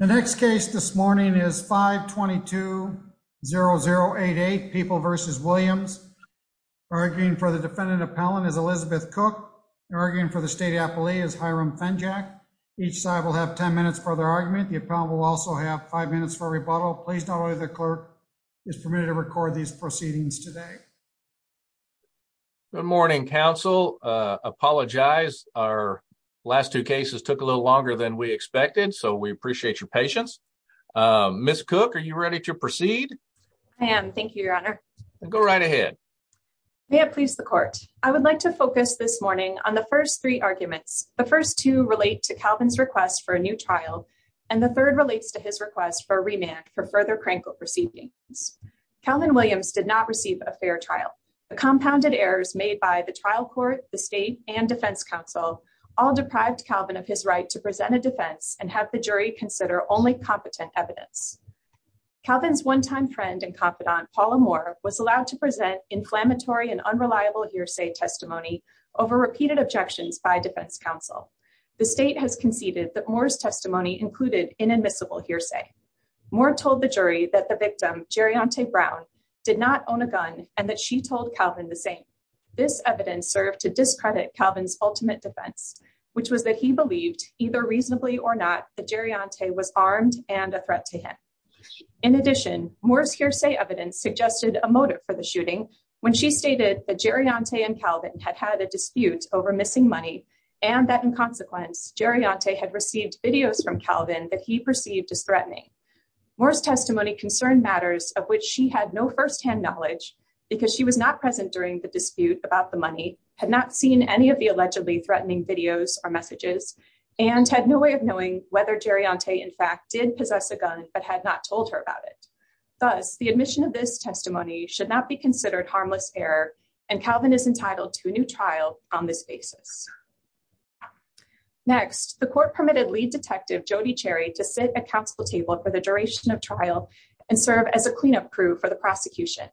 The next case this morning is 522-0088, People v. Williams. Arguing for the defendant appellant is Elizabeth Cook. Arguing for the state appellee is Hiram Fenjack. Each side will have 10 minutes for their argument. The appellant will also have five minutes for rebuttal. Please know that the clerk is permitted to record these proceedings today. Good morning, counsel. I apologize, our last two cases took a little longer than we expected, so we appreciate your patience. Ms. Cook, are you ready to proceed? I am, thank you, your honor. Go right ahead. May it please the court. I would like to focus this morning on the first three arguments. The first two relate to Calvin's request for a new trial, and the third relates to his request for a remand for further crank up receivings. Calvin Williams did not receive a fair trial. The all deprived Calvin of his right to present a defense and have the jury consider only competent evidence. Calvin's one-time friend and confidant, Paula Moore, was allowed to present inflammatory and unreliable hearsay testimony over repeated objections by defense counsel. The state has conceded that Moore's testimony included inadmissible hearsay. Moore told the jury that the victim, Gerriante Brown, did not own a gun and that she told Calvin the same. This evidence served to discredit Calvin's ultimate defense, which was that he believed, either reasonably or not, that Gerriante was armed and a threat to him. In addition, Moore's hearsay evidence suggested a motive for the shooting when she stated that Gerriante and Calvin had had a dispute over missing money and that, in consequence, Gerriante had received videos from Calvin that he perceived as threatening. Moore's testimony concerned matters of which she had no firsthand knowledge because she was not present during the dispute about the money, had not seen any of the allegedly threatening videos or messages, and had no way of knowing whether Gerriante, in fact, did possess a gun but had not told her about it. Thus, the admission of this testimony should not be considered harmless error, and Calvin is entitled to a new trial on this basis. Next, the court permitted lead detective Jody Cherry to sit at counsel table for the duration of trial and serve as a cleanup crew for the prosecution.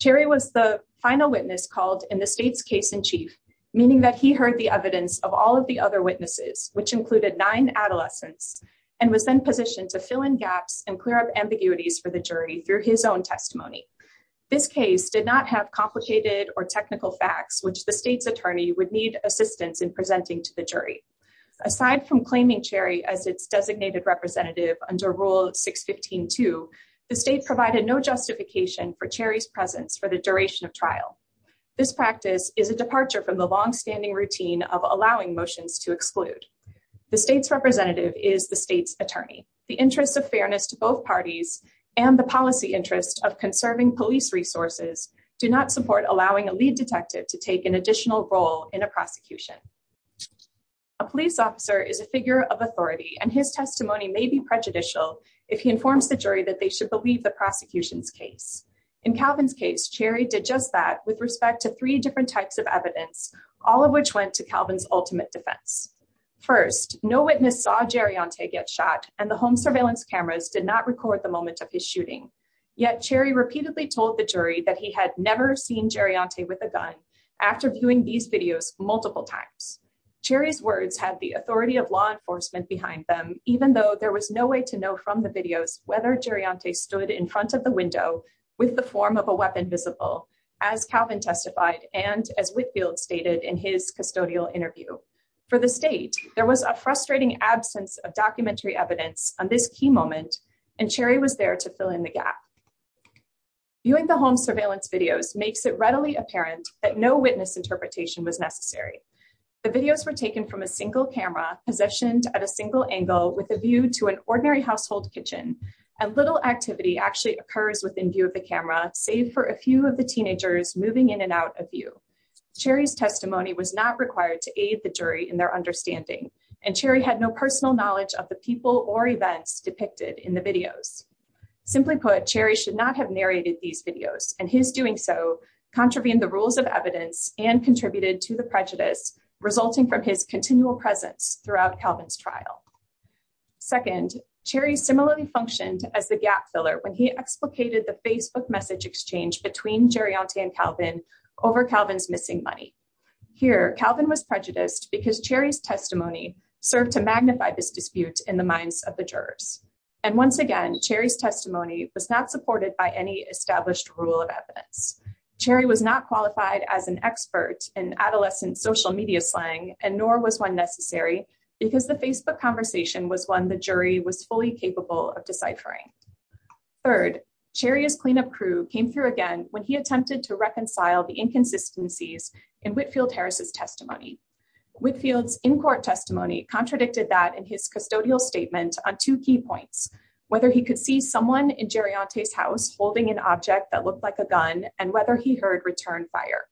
Cherry was the final witness called in the state's case in chief, meaning that he heard the evidence of all of the other witnesses, which included nine adolescents, and was then positioned to fill in gaps and clear up ambiguities for the jury through his own testimony. This case did not have complicated or technical facts which the state's attorney would need assistance in presenting to the jury. Aside from claiming Cherry as its designated representative under Rule 615-2, the state provided no justification for Cherry's presence for the duration of trial. This practice is a departure from the long-standing routine of allowing motions to exclude. The state's representative is the state's attorney. The interests of fairness to both parties and the policy interest of conserving police resources do not support allowing a lead detective to take an additional role in a prosecution. A police officer is a figure of authority, and his testimony may be prejudicial if he informs the jury that they should believe the prosecution's case. In Calvin's case, Cherry did just that with respect to three different types of evidence, all of which went to Calvin's ultimate defense. First, no witness saw Jerry Ontay get shot, and the home surveillance cameras did not that he had never seen Jerry Ontay with a gun after viewing these videos multiple times. Cherry's words had the authority of law enforcement behind them, even though there was no way to know from the videos whether Jerry Ontay stood in front of the window with the form of a weapon visible, as Calvin testified and as Whitfield stated in his custodial interview. For the state, there was a frustrating absence of documentary evidence on this key moment, and Cherry was there to fill in the gap. Viewing the home surveillance videos makes it readily apparent that no witness interpretation was necessary. The videos were taken from a single camera positioned at a single angle with a view to an ordinary household kitchen, and little activity actually occurs within view of the camera, save for a few of the teenagers moving in and out of view. Cherry's testimony was not required to aid the jury in their understanding, and Cherry had no personal knowledge of the people or events depicted in the videos. Simply put, Cherry should not have narrated these videos, and his doing so contravened the rules of evidence and contributed to the prejudice resulting from his continual presence throughout Calvin's trial. Second, Cherry similarly functioned as the gap filler when he explicated the Facebook message exchange between Jerry Ontay and Calvin over Calvin's missing money. Here, Calvin was prejudiced because Cherry's testimony served to magnify this dispute in the minds of the jurors. And once again, Cherry's testimony was not supported by any established rule of evidence. Cherry was not qualified as an expert in adolescent social media slang, and nor was one necessary because the Facebook conversation was one the jury was fully capable of deciphering. Third, Cherry's cleanup crew came through again when he attempted to reconcile the inconsistencies in Whitfield Harris's testimony. Whitfield's in-court testimony contradicted that in his custodial statement on two key points, whether he could see someone in Jerry Ontay's house holding an object that looked like a gun and whether he heard return fire.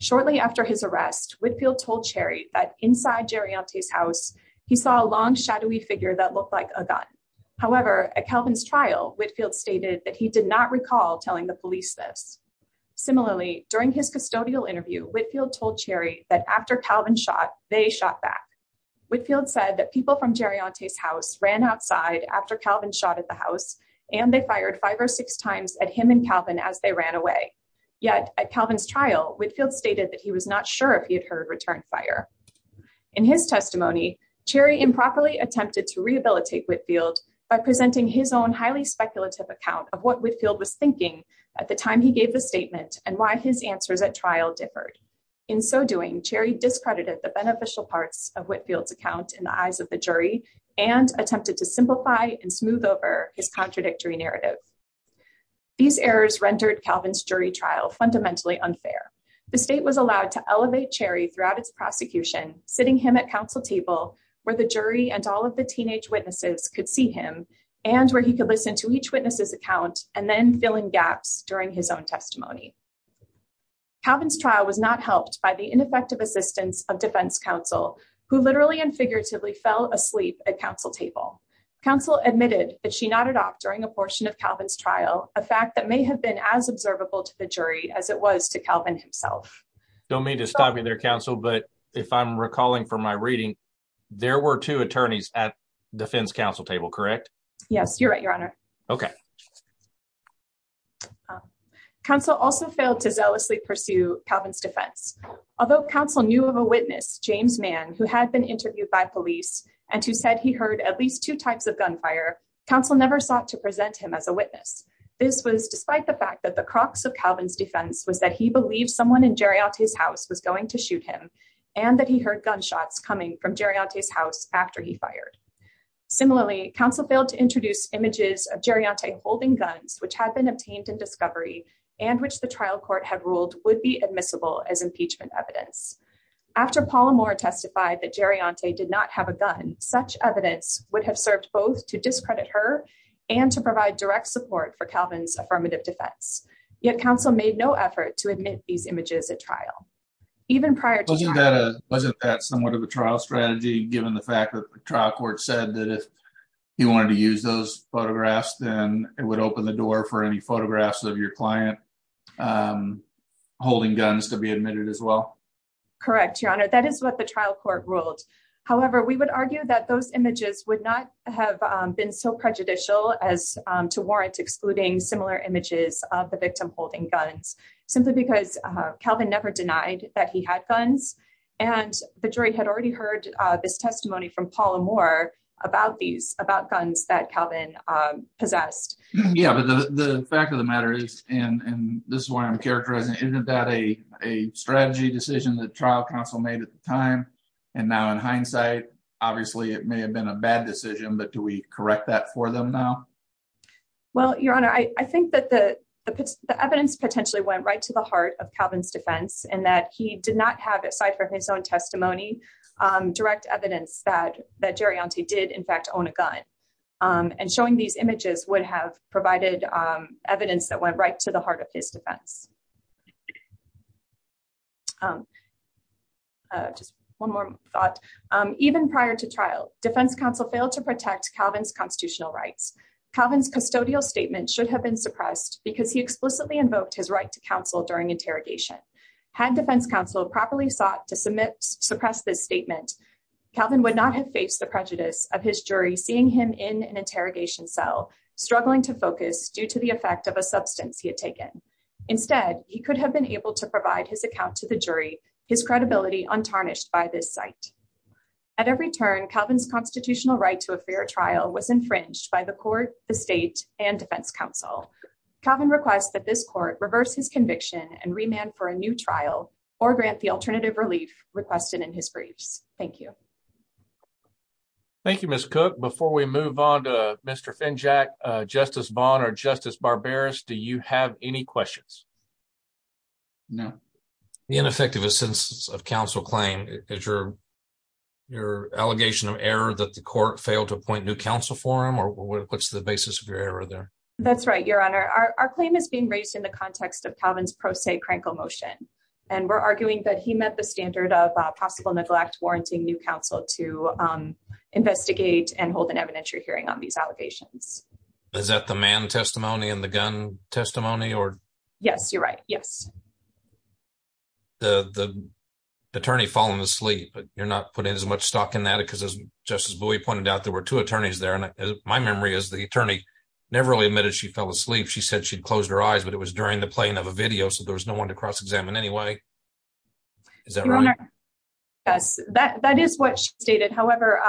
Shortly after his arrest, Whitfield told Cherry that inside Jerry Ontay's house, he saw a long shadowy figure that looked like a gun. However, at Calvin's trial, Whitfield stated that he did recall telling the police this. Similarly, during his custodial interview, Whitfield told Cherry that after Calvin shot, they shot back. Whitfield said that people from Jerry Ontay's house ran outside after Calvin shot at the house, and they fired five or six times at him and Calvin as they ran away. Yet, at Calvin's trial, Whitfield stated that he was not sure if he had heard return fire. In his testimony, Cherry improperly attempted to rehabilitate Whitfield by presenting his own speculative account of what Whitfield was thinking at the time he gave the statement and why his answers at trial differed. In so doing, Cherry discredited the beneficial parts of Whitfield's account in the eyes of the jury and attempted to simplify and smooth over his contradictory narrative. These errors rendered Calvin's jury trial fundamentally unfair. The state was allowed to elevate Cherry throughout its prosecution, sitting him at council table where the jury and all of the teenage witnesses could see him and where he could listen to each witness's account and then fill in gaps during his own testimony. Calvin's trial was not helped by the ineffective assistance of defense counsel, who literally and figuratively fell asleep at counsel table. Counsel admitted that she nodded off during a portion of Calvin's trial, a fact that may have been as observable to the jury as it was to Calvin himself. Don't mean to stop you counsel, but if I'm recalling from my reading, there were two attorneys at defense counsel table, correct? Yes, you're right, your honor. Okay. Counsel also failed to zealously pursue Calvin's defense. Although counsel knew of a witness, James Mann, who had been interviewed by police and who said he heard at least two types of gunfire, counsel never sought to present him as a witness. This was despite the fact that the crux of Calvin's defense was that he believed someone in Geronti's house was going to shoot him and that he heard gunshots coming from Geronti's house after he fired. Similarly, counsel failed to introduce images of Geronti holding guns, which had been obtained in discovery and which the trial court had ruled would be admissible as impeachment evidence. After Paul Moore testified that Geronti did not have a gun, such evidence would have served both to discredit her and to provide direct support for Calvin's images at trial. Wasn't that somewhat of a trial strategy given the fact that the trial court said that if he wanted to use those photographs, then it would open the door for any photographs of your client holding guns to be admitted as well? Correct, your honor. That is what the trial court ruled. However, we would argue that those images would not have been so prejudicial as to warrant excluding similar images of the victim holding guns, simply because Calvin never denied that he had guns and the jury had already heard this testimony from Paul Moore about these, about guns that Calvin possessed. Yeah, but the fact of the matter is, and this is why I'm characterizing, isn't that a strategy decision that trial counsel made at the time and now in hindsight, obviously it may have been a bad decision, but do we correct that for them now? Well, your honor, I think that the evidence potentially went right to the heart of Calvin's defense and that he did not have, aside from his own testimony, direct evidence that Geronti did in fact own a gun. And showing these images would have provided evidence that went right to the heart of his defense. Just one more thought. Even prior to trial, defense counsel failed to protect Calvin's constitutional rights. Calvin's custodial statement should have been suppressed because he explicitly invoked his right to counsel during interrogation. Had defense counsel properly sought to suppress this statement, Calvin would not have faced the prejudice of his jury seeing him in an interrogation cell, struggling to focus due to the effect of a substance he had taken. Instead, he could have been able to provide his account to the jury, his credibility untarnished by this site. At every turn, Calvin's constitutional right to a fair trial was infringed by the court, the state, and defense counsel. Calvin requests that this court reverse his conviction and remand for a new trial or grant the alternative relief requested in his briefs. Thank you. Thank you, Ms. Cook. Before we move on to Mr. Finjack, Justice Vaughn or Justice Barberis, do you have any questions? No. The ineffectiveness of counsel claim is your allegation of error that the court failed to appoint new counsel for him or what's the basis of your error there? That's right, Your Honor. Our claim is being raised in the context of Calvin's pro se crankle motion and we're arguing that he met the standard of possible neglect warranting new counsel to investigate and hold an evidentiary hearing on these allegations. Is that the man testimony and the gun testimony Yes, you're right. Yes. The attorney falling asleep but you're not putting as much stock in that because as Justice Bowie pointed out there were two attorneys there and my memory is the attorney never really admitted she fell asleep. She said she'd closed her eyes but it was during the playing of a video so there was no one to cross-examine anyway. Is that right? Yes, that is what she stated. However,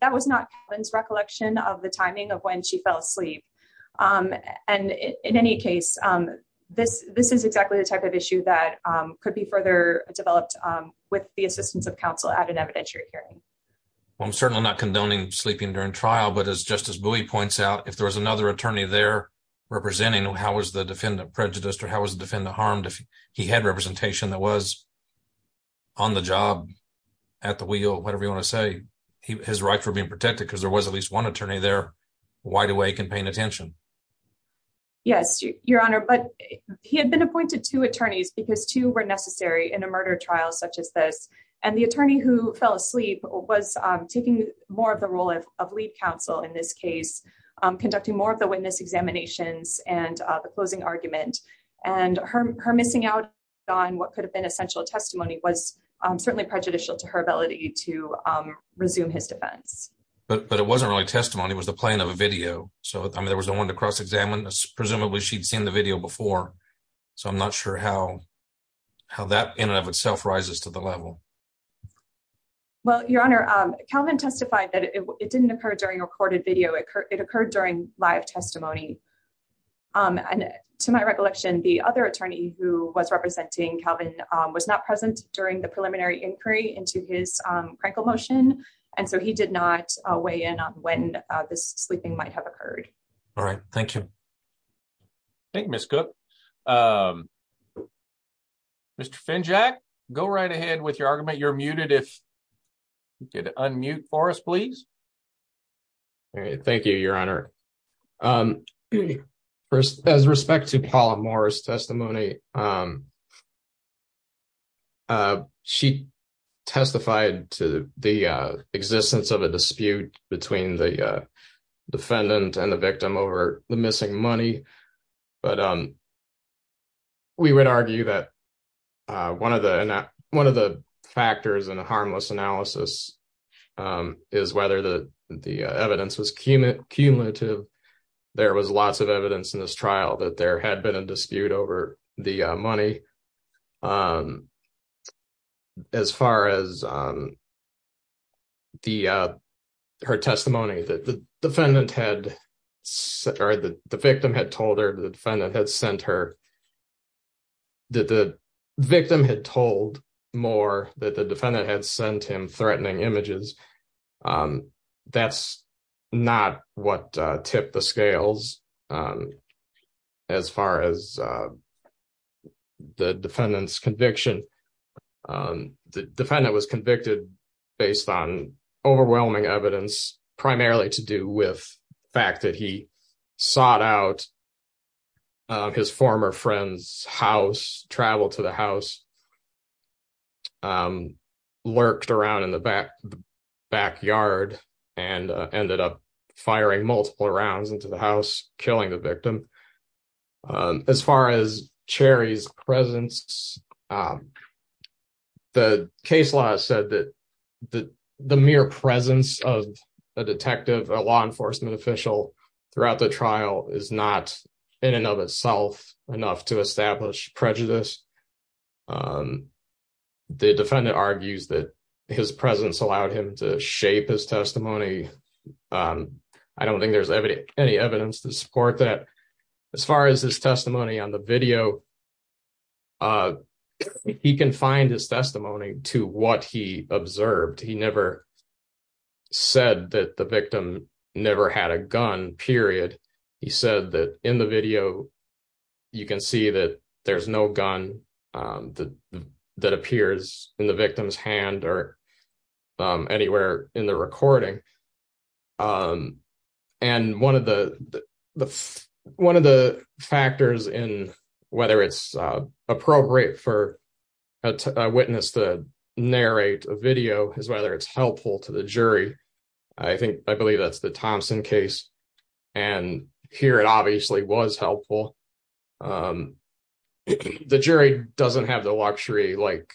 that was not Calvin's recollection of the timing of when she fell asleep um and in any case um this this is exactly the type of issue that um could be further developed um with the assistance of counsel at an evidentiary hearing. Well I'm certainly not condoning sleeping during trial but as Justice Bowie points out if there was another attorney there representing how was the defendant prejudiced or how was the defendant harmed if he had representation that was on the job at the wheel whatever you want to say his rights were being protected because there was at least one attorney there wide awake and paying attention. Yes, your honor but he had been appointed two attorneys because two were necessary in a murder trial such as this and the attorney who fell asleep was um taking more of the role of of lead counsel in this case um conducting more of the witness examinations and uh the closing argument and her her missing out on what could have been essential testimony was um certainly prejudicial to her ability to um resume his defense. But it wasn't really testimony it was the plane of a video so I mean there was no one to cross examine this presumably she'd seen the video before so I'm not sure how how that in and of itself rises to the level. Well your honor um Calvin testified that it didn't occur during recorded video it occurred during live testimony um and to my recollection the other attorney who was representing Calvin was not present during the preliminary inquiry into his um crankle motion and so he did not weigh in on when uh this sleeping might have occurred. All right thank you. Thank you Ms. Cook. Mr. Finjack go right ahead with your argument you're muted if you could unmute for us please. All right thank you your honor um first as respect to Paula Moore's testimony um uh she testified to the uh existence of a dispute between the defendant and the victim over the missing money but um we would argue that uh one of the one of the factors in a harmless analysis um is whether the the evidence was cumulative there was lots of evidence in this trial that there had been a dispute over the uh money um as far as um the uh her testimony that the defendant had or the the victim had told her the defendant had sent her that the victim had told Moore that the defendant had sent him threatening images um that's not what uh tipped the scales um as far as uh the defendant's conviction um the defendant was convicted based on overwhelming evidence primarily to do with fact that he sought out his former friend's house traveled to the house um lurked around in the back backyard and ended up firing multiple rounds into the house killing the victim as far as cherry's presence um the case law said that the the mere presence of a detective a law enforcement official throughout the trial is not in and of itself enough to um the defendant argues that his presence allowed him to shape his testimony um i don't think there's any evidence to support that as far as his testimony on the video he can find his testimony to what he observed he never said that the victim never had a gun period he said that in the video you can see that there's no gun um that appears in the victim's hand or um anywhere in the recording um and one of the the one of the factors in whether it's uh appropriate for a witness to narrate a video is whether it's thompson case and here it obviously was helpful um the jury doesn't have the luxury like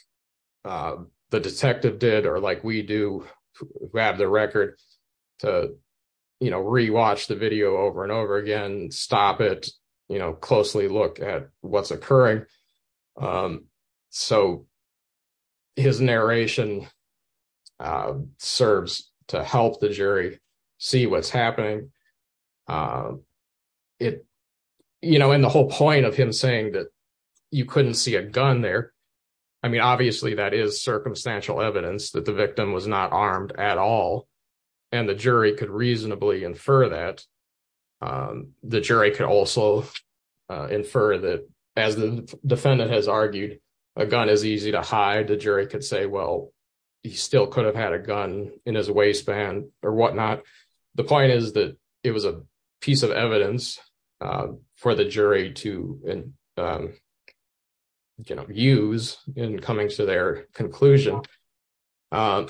the detective did or like we do grab the record to you know re-watch the video over and over again stop it you know closely look at what's occurring um so his narration uh serves to help the jury see what's happening um it you know in the whole point of him saying that you couldn't see a gun there i mean obviously that is circumstantial evidence that the victim was not armed at all and the jury could reasonably infer that um the jury could also infer that as the defendant has argued a gun is easy to hide the jury could say well he still could have had a gun in his waistband or whatnot the point is that it was a piece of evidence for the jury to um you know use in coming to their conclusion um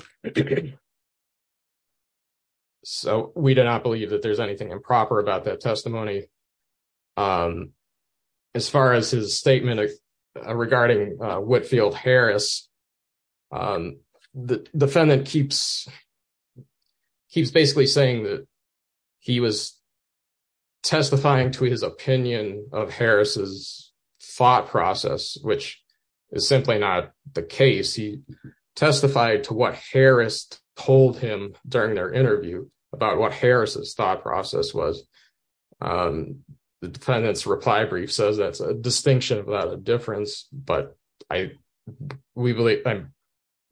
so we do not believe that there's anything improper about that testimony um as far as his statement regarding uh Whitfield Harris um the defendant keeps keeps basically saying that he was testifying to his opinion of Harris's thought process which is simply not the case he testified to what Harris told him during their interview about what Harris's thought process was um the defendant's reply brief says that's a distinction without a difference but i we believe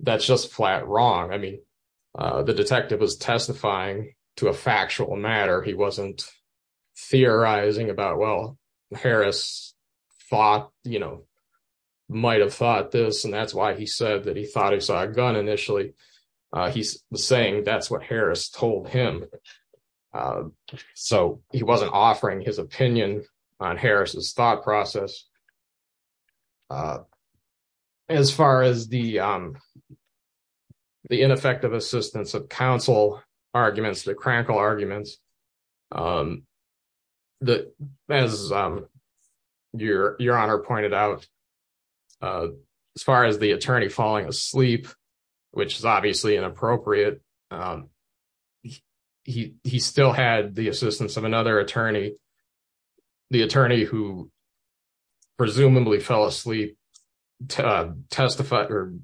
that's just flat wrong i mean uh the detective was testifying to a factual matter he wasn't theorizing about well Harris thought you know might have thought this and that's why he said that he thought he saw a gun initially uh he's saying that's what Harris told him uh so he wasn't offering his opinion on Harris's thought process uh as far as the um the ineffective assistance of counsel arguments the crankle arguments um that as um your your honor pointed out uh as far as the attorney falling asleep which is obviously inappropriate um he he still had the assistance of another attorney the attorney who presumably fell asleep uh testified or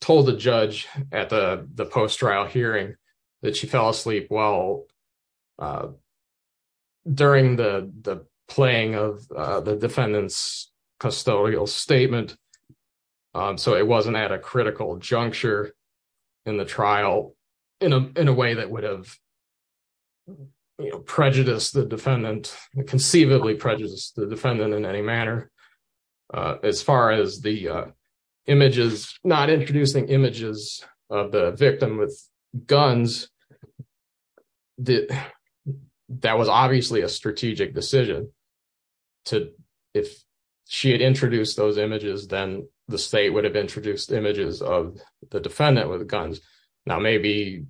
told the judge at the the post trial hearing that she fell asleep well uh during the the playing of uh the defendant's in the trial in a in a way that would have you know prejudiced the defendant conceivably prejudiced the defendant in any manner uh as far as the uh images not introducing images of the victim with guns that that was obviously a strategic decision to if she had introduced those images then the state would have introduced images of the defendant with guns now maybe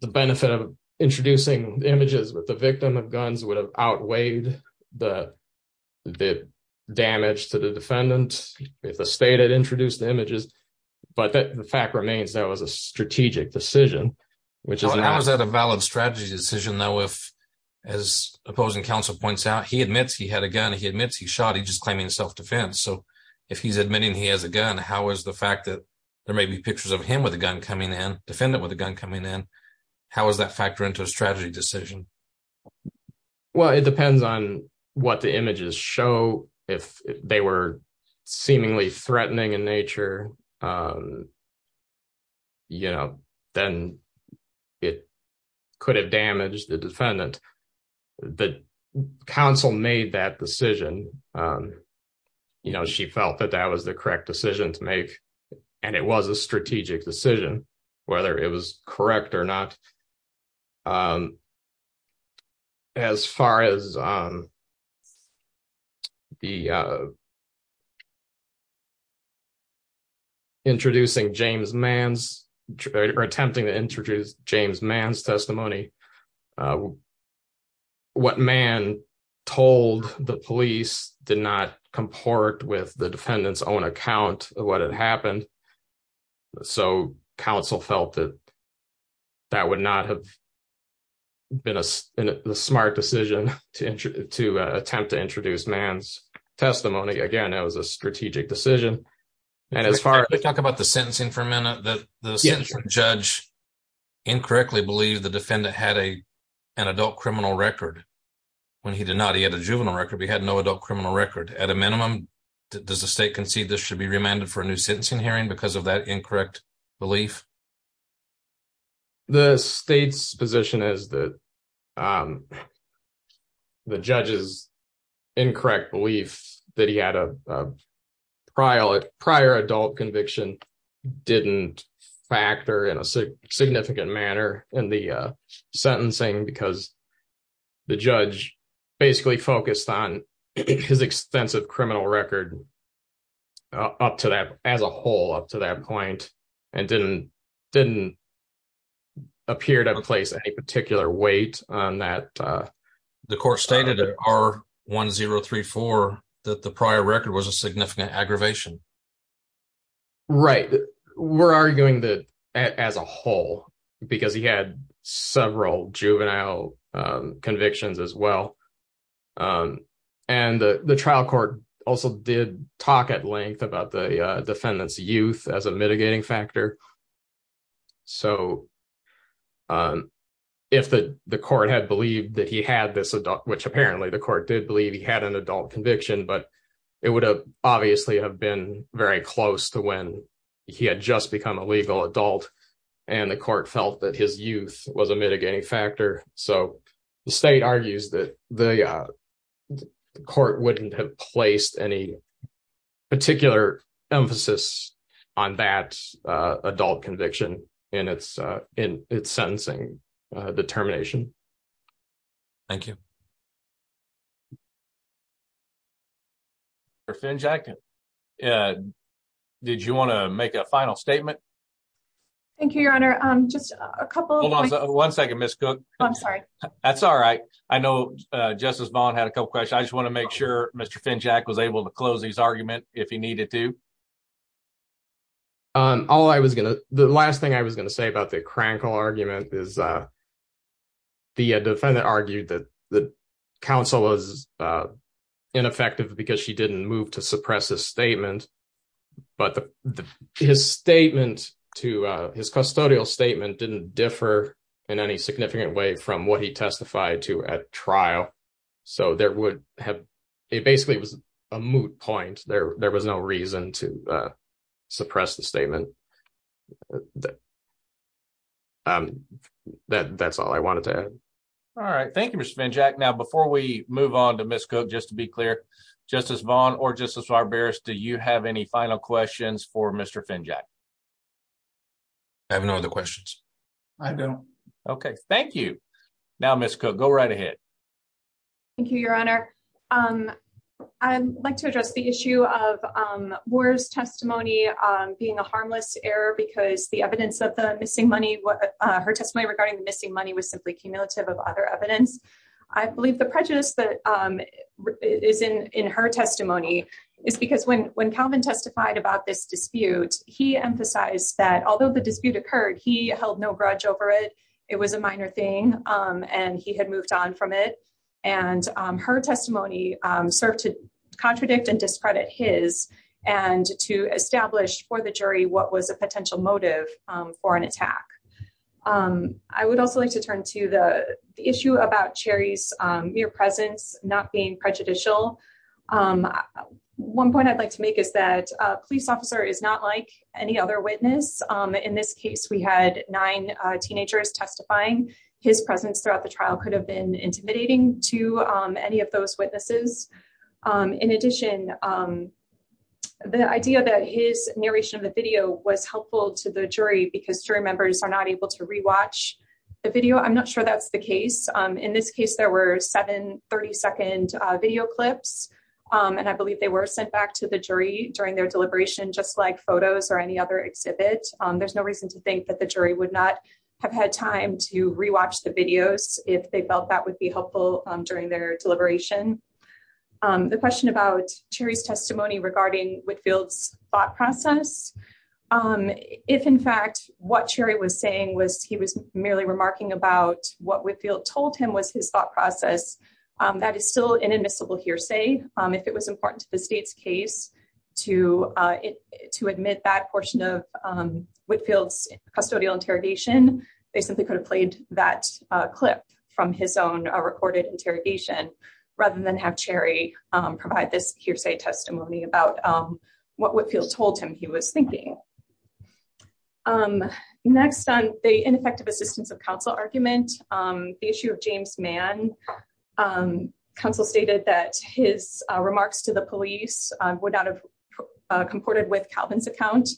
the benefit of introducing images with the victim of guns would have outweighed the the damage to the defendant if the state had introduced the images but that the fact remains that was a strategic decision which is that a valid strategy decision though if as opposing counsel points out he admits he had a gun he admits he shot he's just claiming self-defense so if he's admitting he has a gun how is the fact that there may be pictures of him with a gun coming in defendant with a gun coming in how does that factor into a strategy decision well it depends on what the images show if they were seemingly threatening in nature um you know then it could have damaged the defendant the counsel made that decision um you know she felt that that was the correct decision to make and it was a strategic decision whether it was correct or not um as far as um the uh introducing james man's or attempting to introduce james man's testimony what man told the police did not comport with the defendant's own account of what had happened so counsel felt that that would not have been a smart decision to enter to attempt to introduce man's testimony again that was a strategic decision and as far as we talk about the sentencing for a minute that the judge incorrectly believed the defendant had a an adult criminal record when he did not he had a juvenile record but he had no adult criminal record at a minimum does the state concede this should be remanded for a new sentencing hearing because of that incorrect belief the state's position is that um the judge's incorrect belief that he had a prior prior adult conviction didn't factor in a significant manner in the uh basically focused on his extensive criminal record up to that as a whole up to that point and didn't didn't appear to place any particular weight on that uh the court stated at r1034 that the prior record was a significant aggravation right we're arguing that as a whole because he had several juvenile convictions as well and the the trial court also did talk at length about the defendant's youth as a mitigating factor so um if the the court had believed that he had this adult which apparently the court did believe he had an adult conviction but it would have obviously have been very close to when he had just become a legal adult and the court felt that his youth was a mitigating factor so the state argues that the court wouldn't have placed any particular emphasis on that adult conviction in its uh in its sentencing determination thank you you or fin jacket uh did you want to make a final statement thank you your honor um just a couple one second miss cook i'm sorry that's all right i know uh justice bond had a couple questions i just want to make sure mr fin jack was able to close his argument if he needed to um all i was gonna the last thing i was going to say about the crankle argument is uh the defendant argued that the counsel was uh ineffective because she didn't move to suppress his statement but the his statement to uh his custodial statement didn't differ in any significant way from what he testified to at trial so there would have it basically was a moot point there there was no reason to uh suppress the statement that um that that's all i wanted to add all right thank you mr fin jack now before we move on to miss cook just to be clear justice bond or justice barbarus do you have any final questions for mr fin jack i have no other questions i don't okay thank you now miss cook go right ahead thank you your honor um i'd like to address the issue of um war's testimony um being a harmless error because the evidence of the missing money what her testimony regarding the missing money was simply cumulative of other evidence i believe the prejudice that um is in in her testimony is because when when calvin testified about this dispute he emphasized that although the dispute occurred he held no grudge over it it was a minor thing um and he had moved on from it and um her testimony um served to contradict and discredit his and to establish for the jury what was a potential motive um for an attack um i would also like to turn to the issue about cherry's um mere presence not being prejudicial um one point i'd like to make is that a police officer is not like any other witness um in this case we had nine uh teenagers testifying his presence throughout the trial could have been intimidating to um any of those witnesses um in addition um the idea that his narration of the video was helpful to the jury because jury members are not able to re-watch the video i'm not sure that's the case um in this case there were seven 30 second video clips um and i believe they were sent back to the jury during their deliberation just like photos or any other exhibit um there's no reason to think that the jury would not have had time to re-watch the videos if they felt that would be helpful during their deliberation um the question about cherry's testimony regarding Whitfield's thought process um if in fact what cherry was saying was he was merely remarking about what Whitfield told him was his thought process um that is still an admissible hearsay um if it was important to state's case to uh to admit that portion of um Whitfield's custodial interrogation they simply could have played that uh clip from his own recorded interrogation rather than have cherry um provide this hearsay testimony about um what Whitfield told him he was thinking um next on the ineffective assistance of counsel argument um the issue of James Mann um counsel stated that his remarks to the police would not have comported with Calvin's account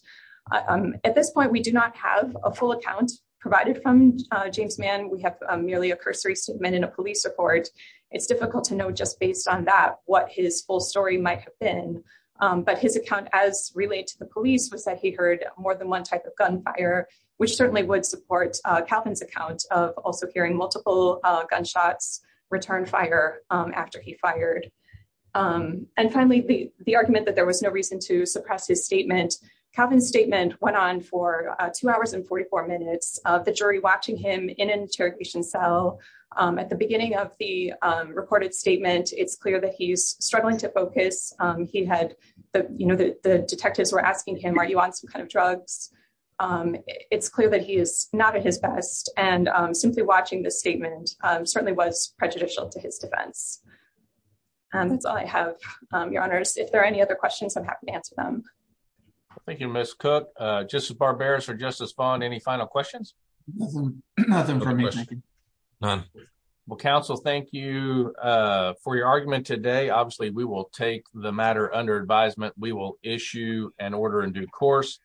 at this point we do not have a full account provided from James Mann we have merely a cursory statement in a police report it's difficult to know just based on that what his full story might have been but his account as relayed to the police was that he heard more than one type of gunfire which certainly would support Calvin's account of also hearing multiple gunshots return fire um after he fired um and finally the the argument that there was no reason to suppress his statement Calvin's statement went on for two hours and 44 minutes of the jury watching him in an interrogation cell um at the beginning of the um recorded statement it's clear that he's struggling to focus um he had the you know the detectives were asking him are you on some kind of drugs um it's clear that he is not at his best and um simply watching this statement certainly was prejudicial to his defense and that's all i have um your honors if there are any other questions i'm happy to answer them thank you miss cook uh justice barbarus or justice fond any final questions nothing nothing for me none well counsel thank you uh for your argument today obviously we will take the matter under advisement we will issue an order in due course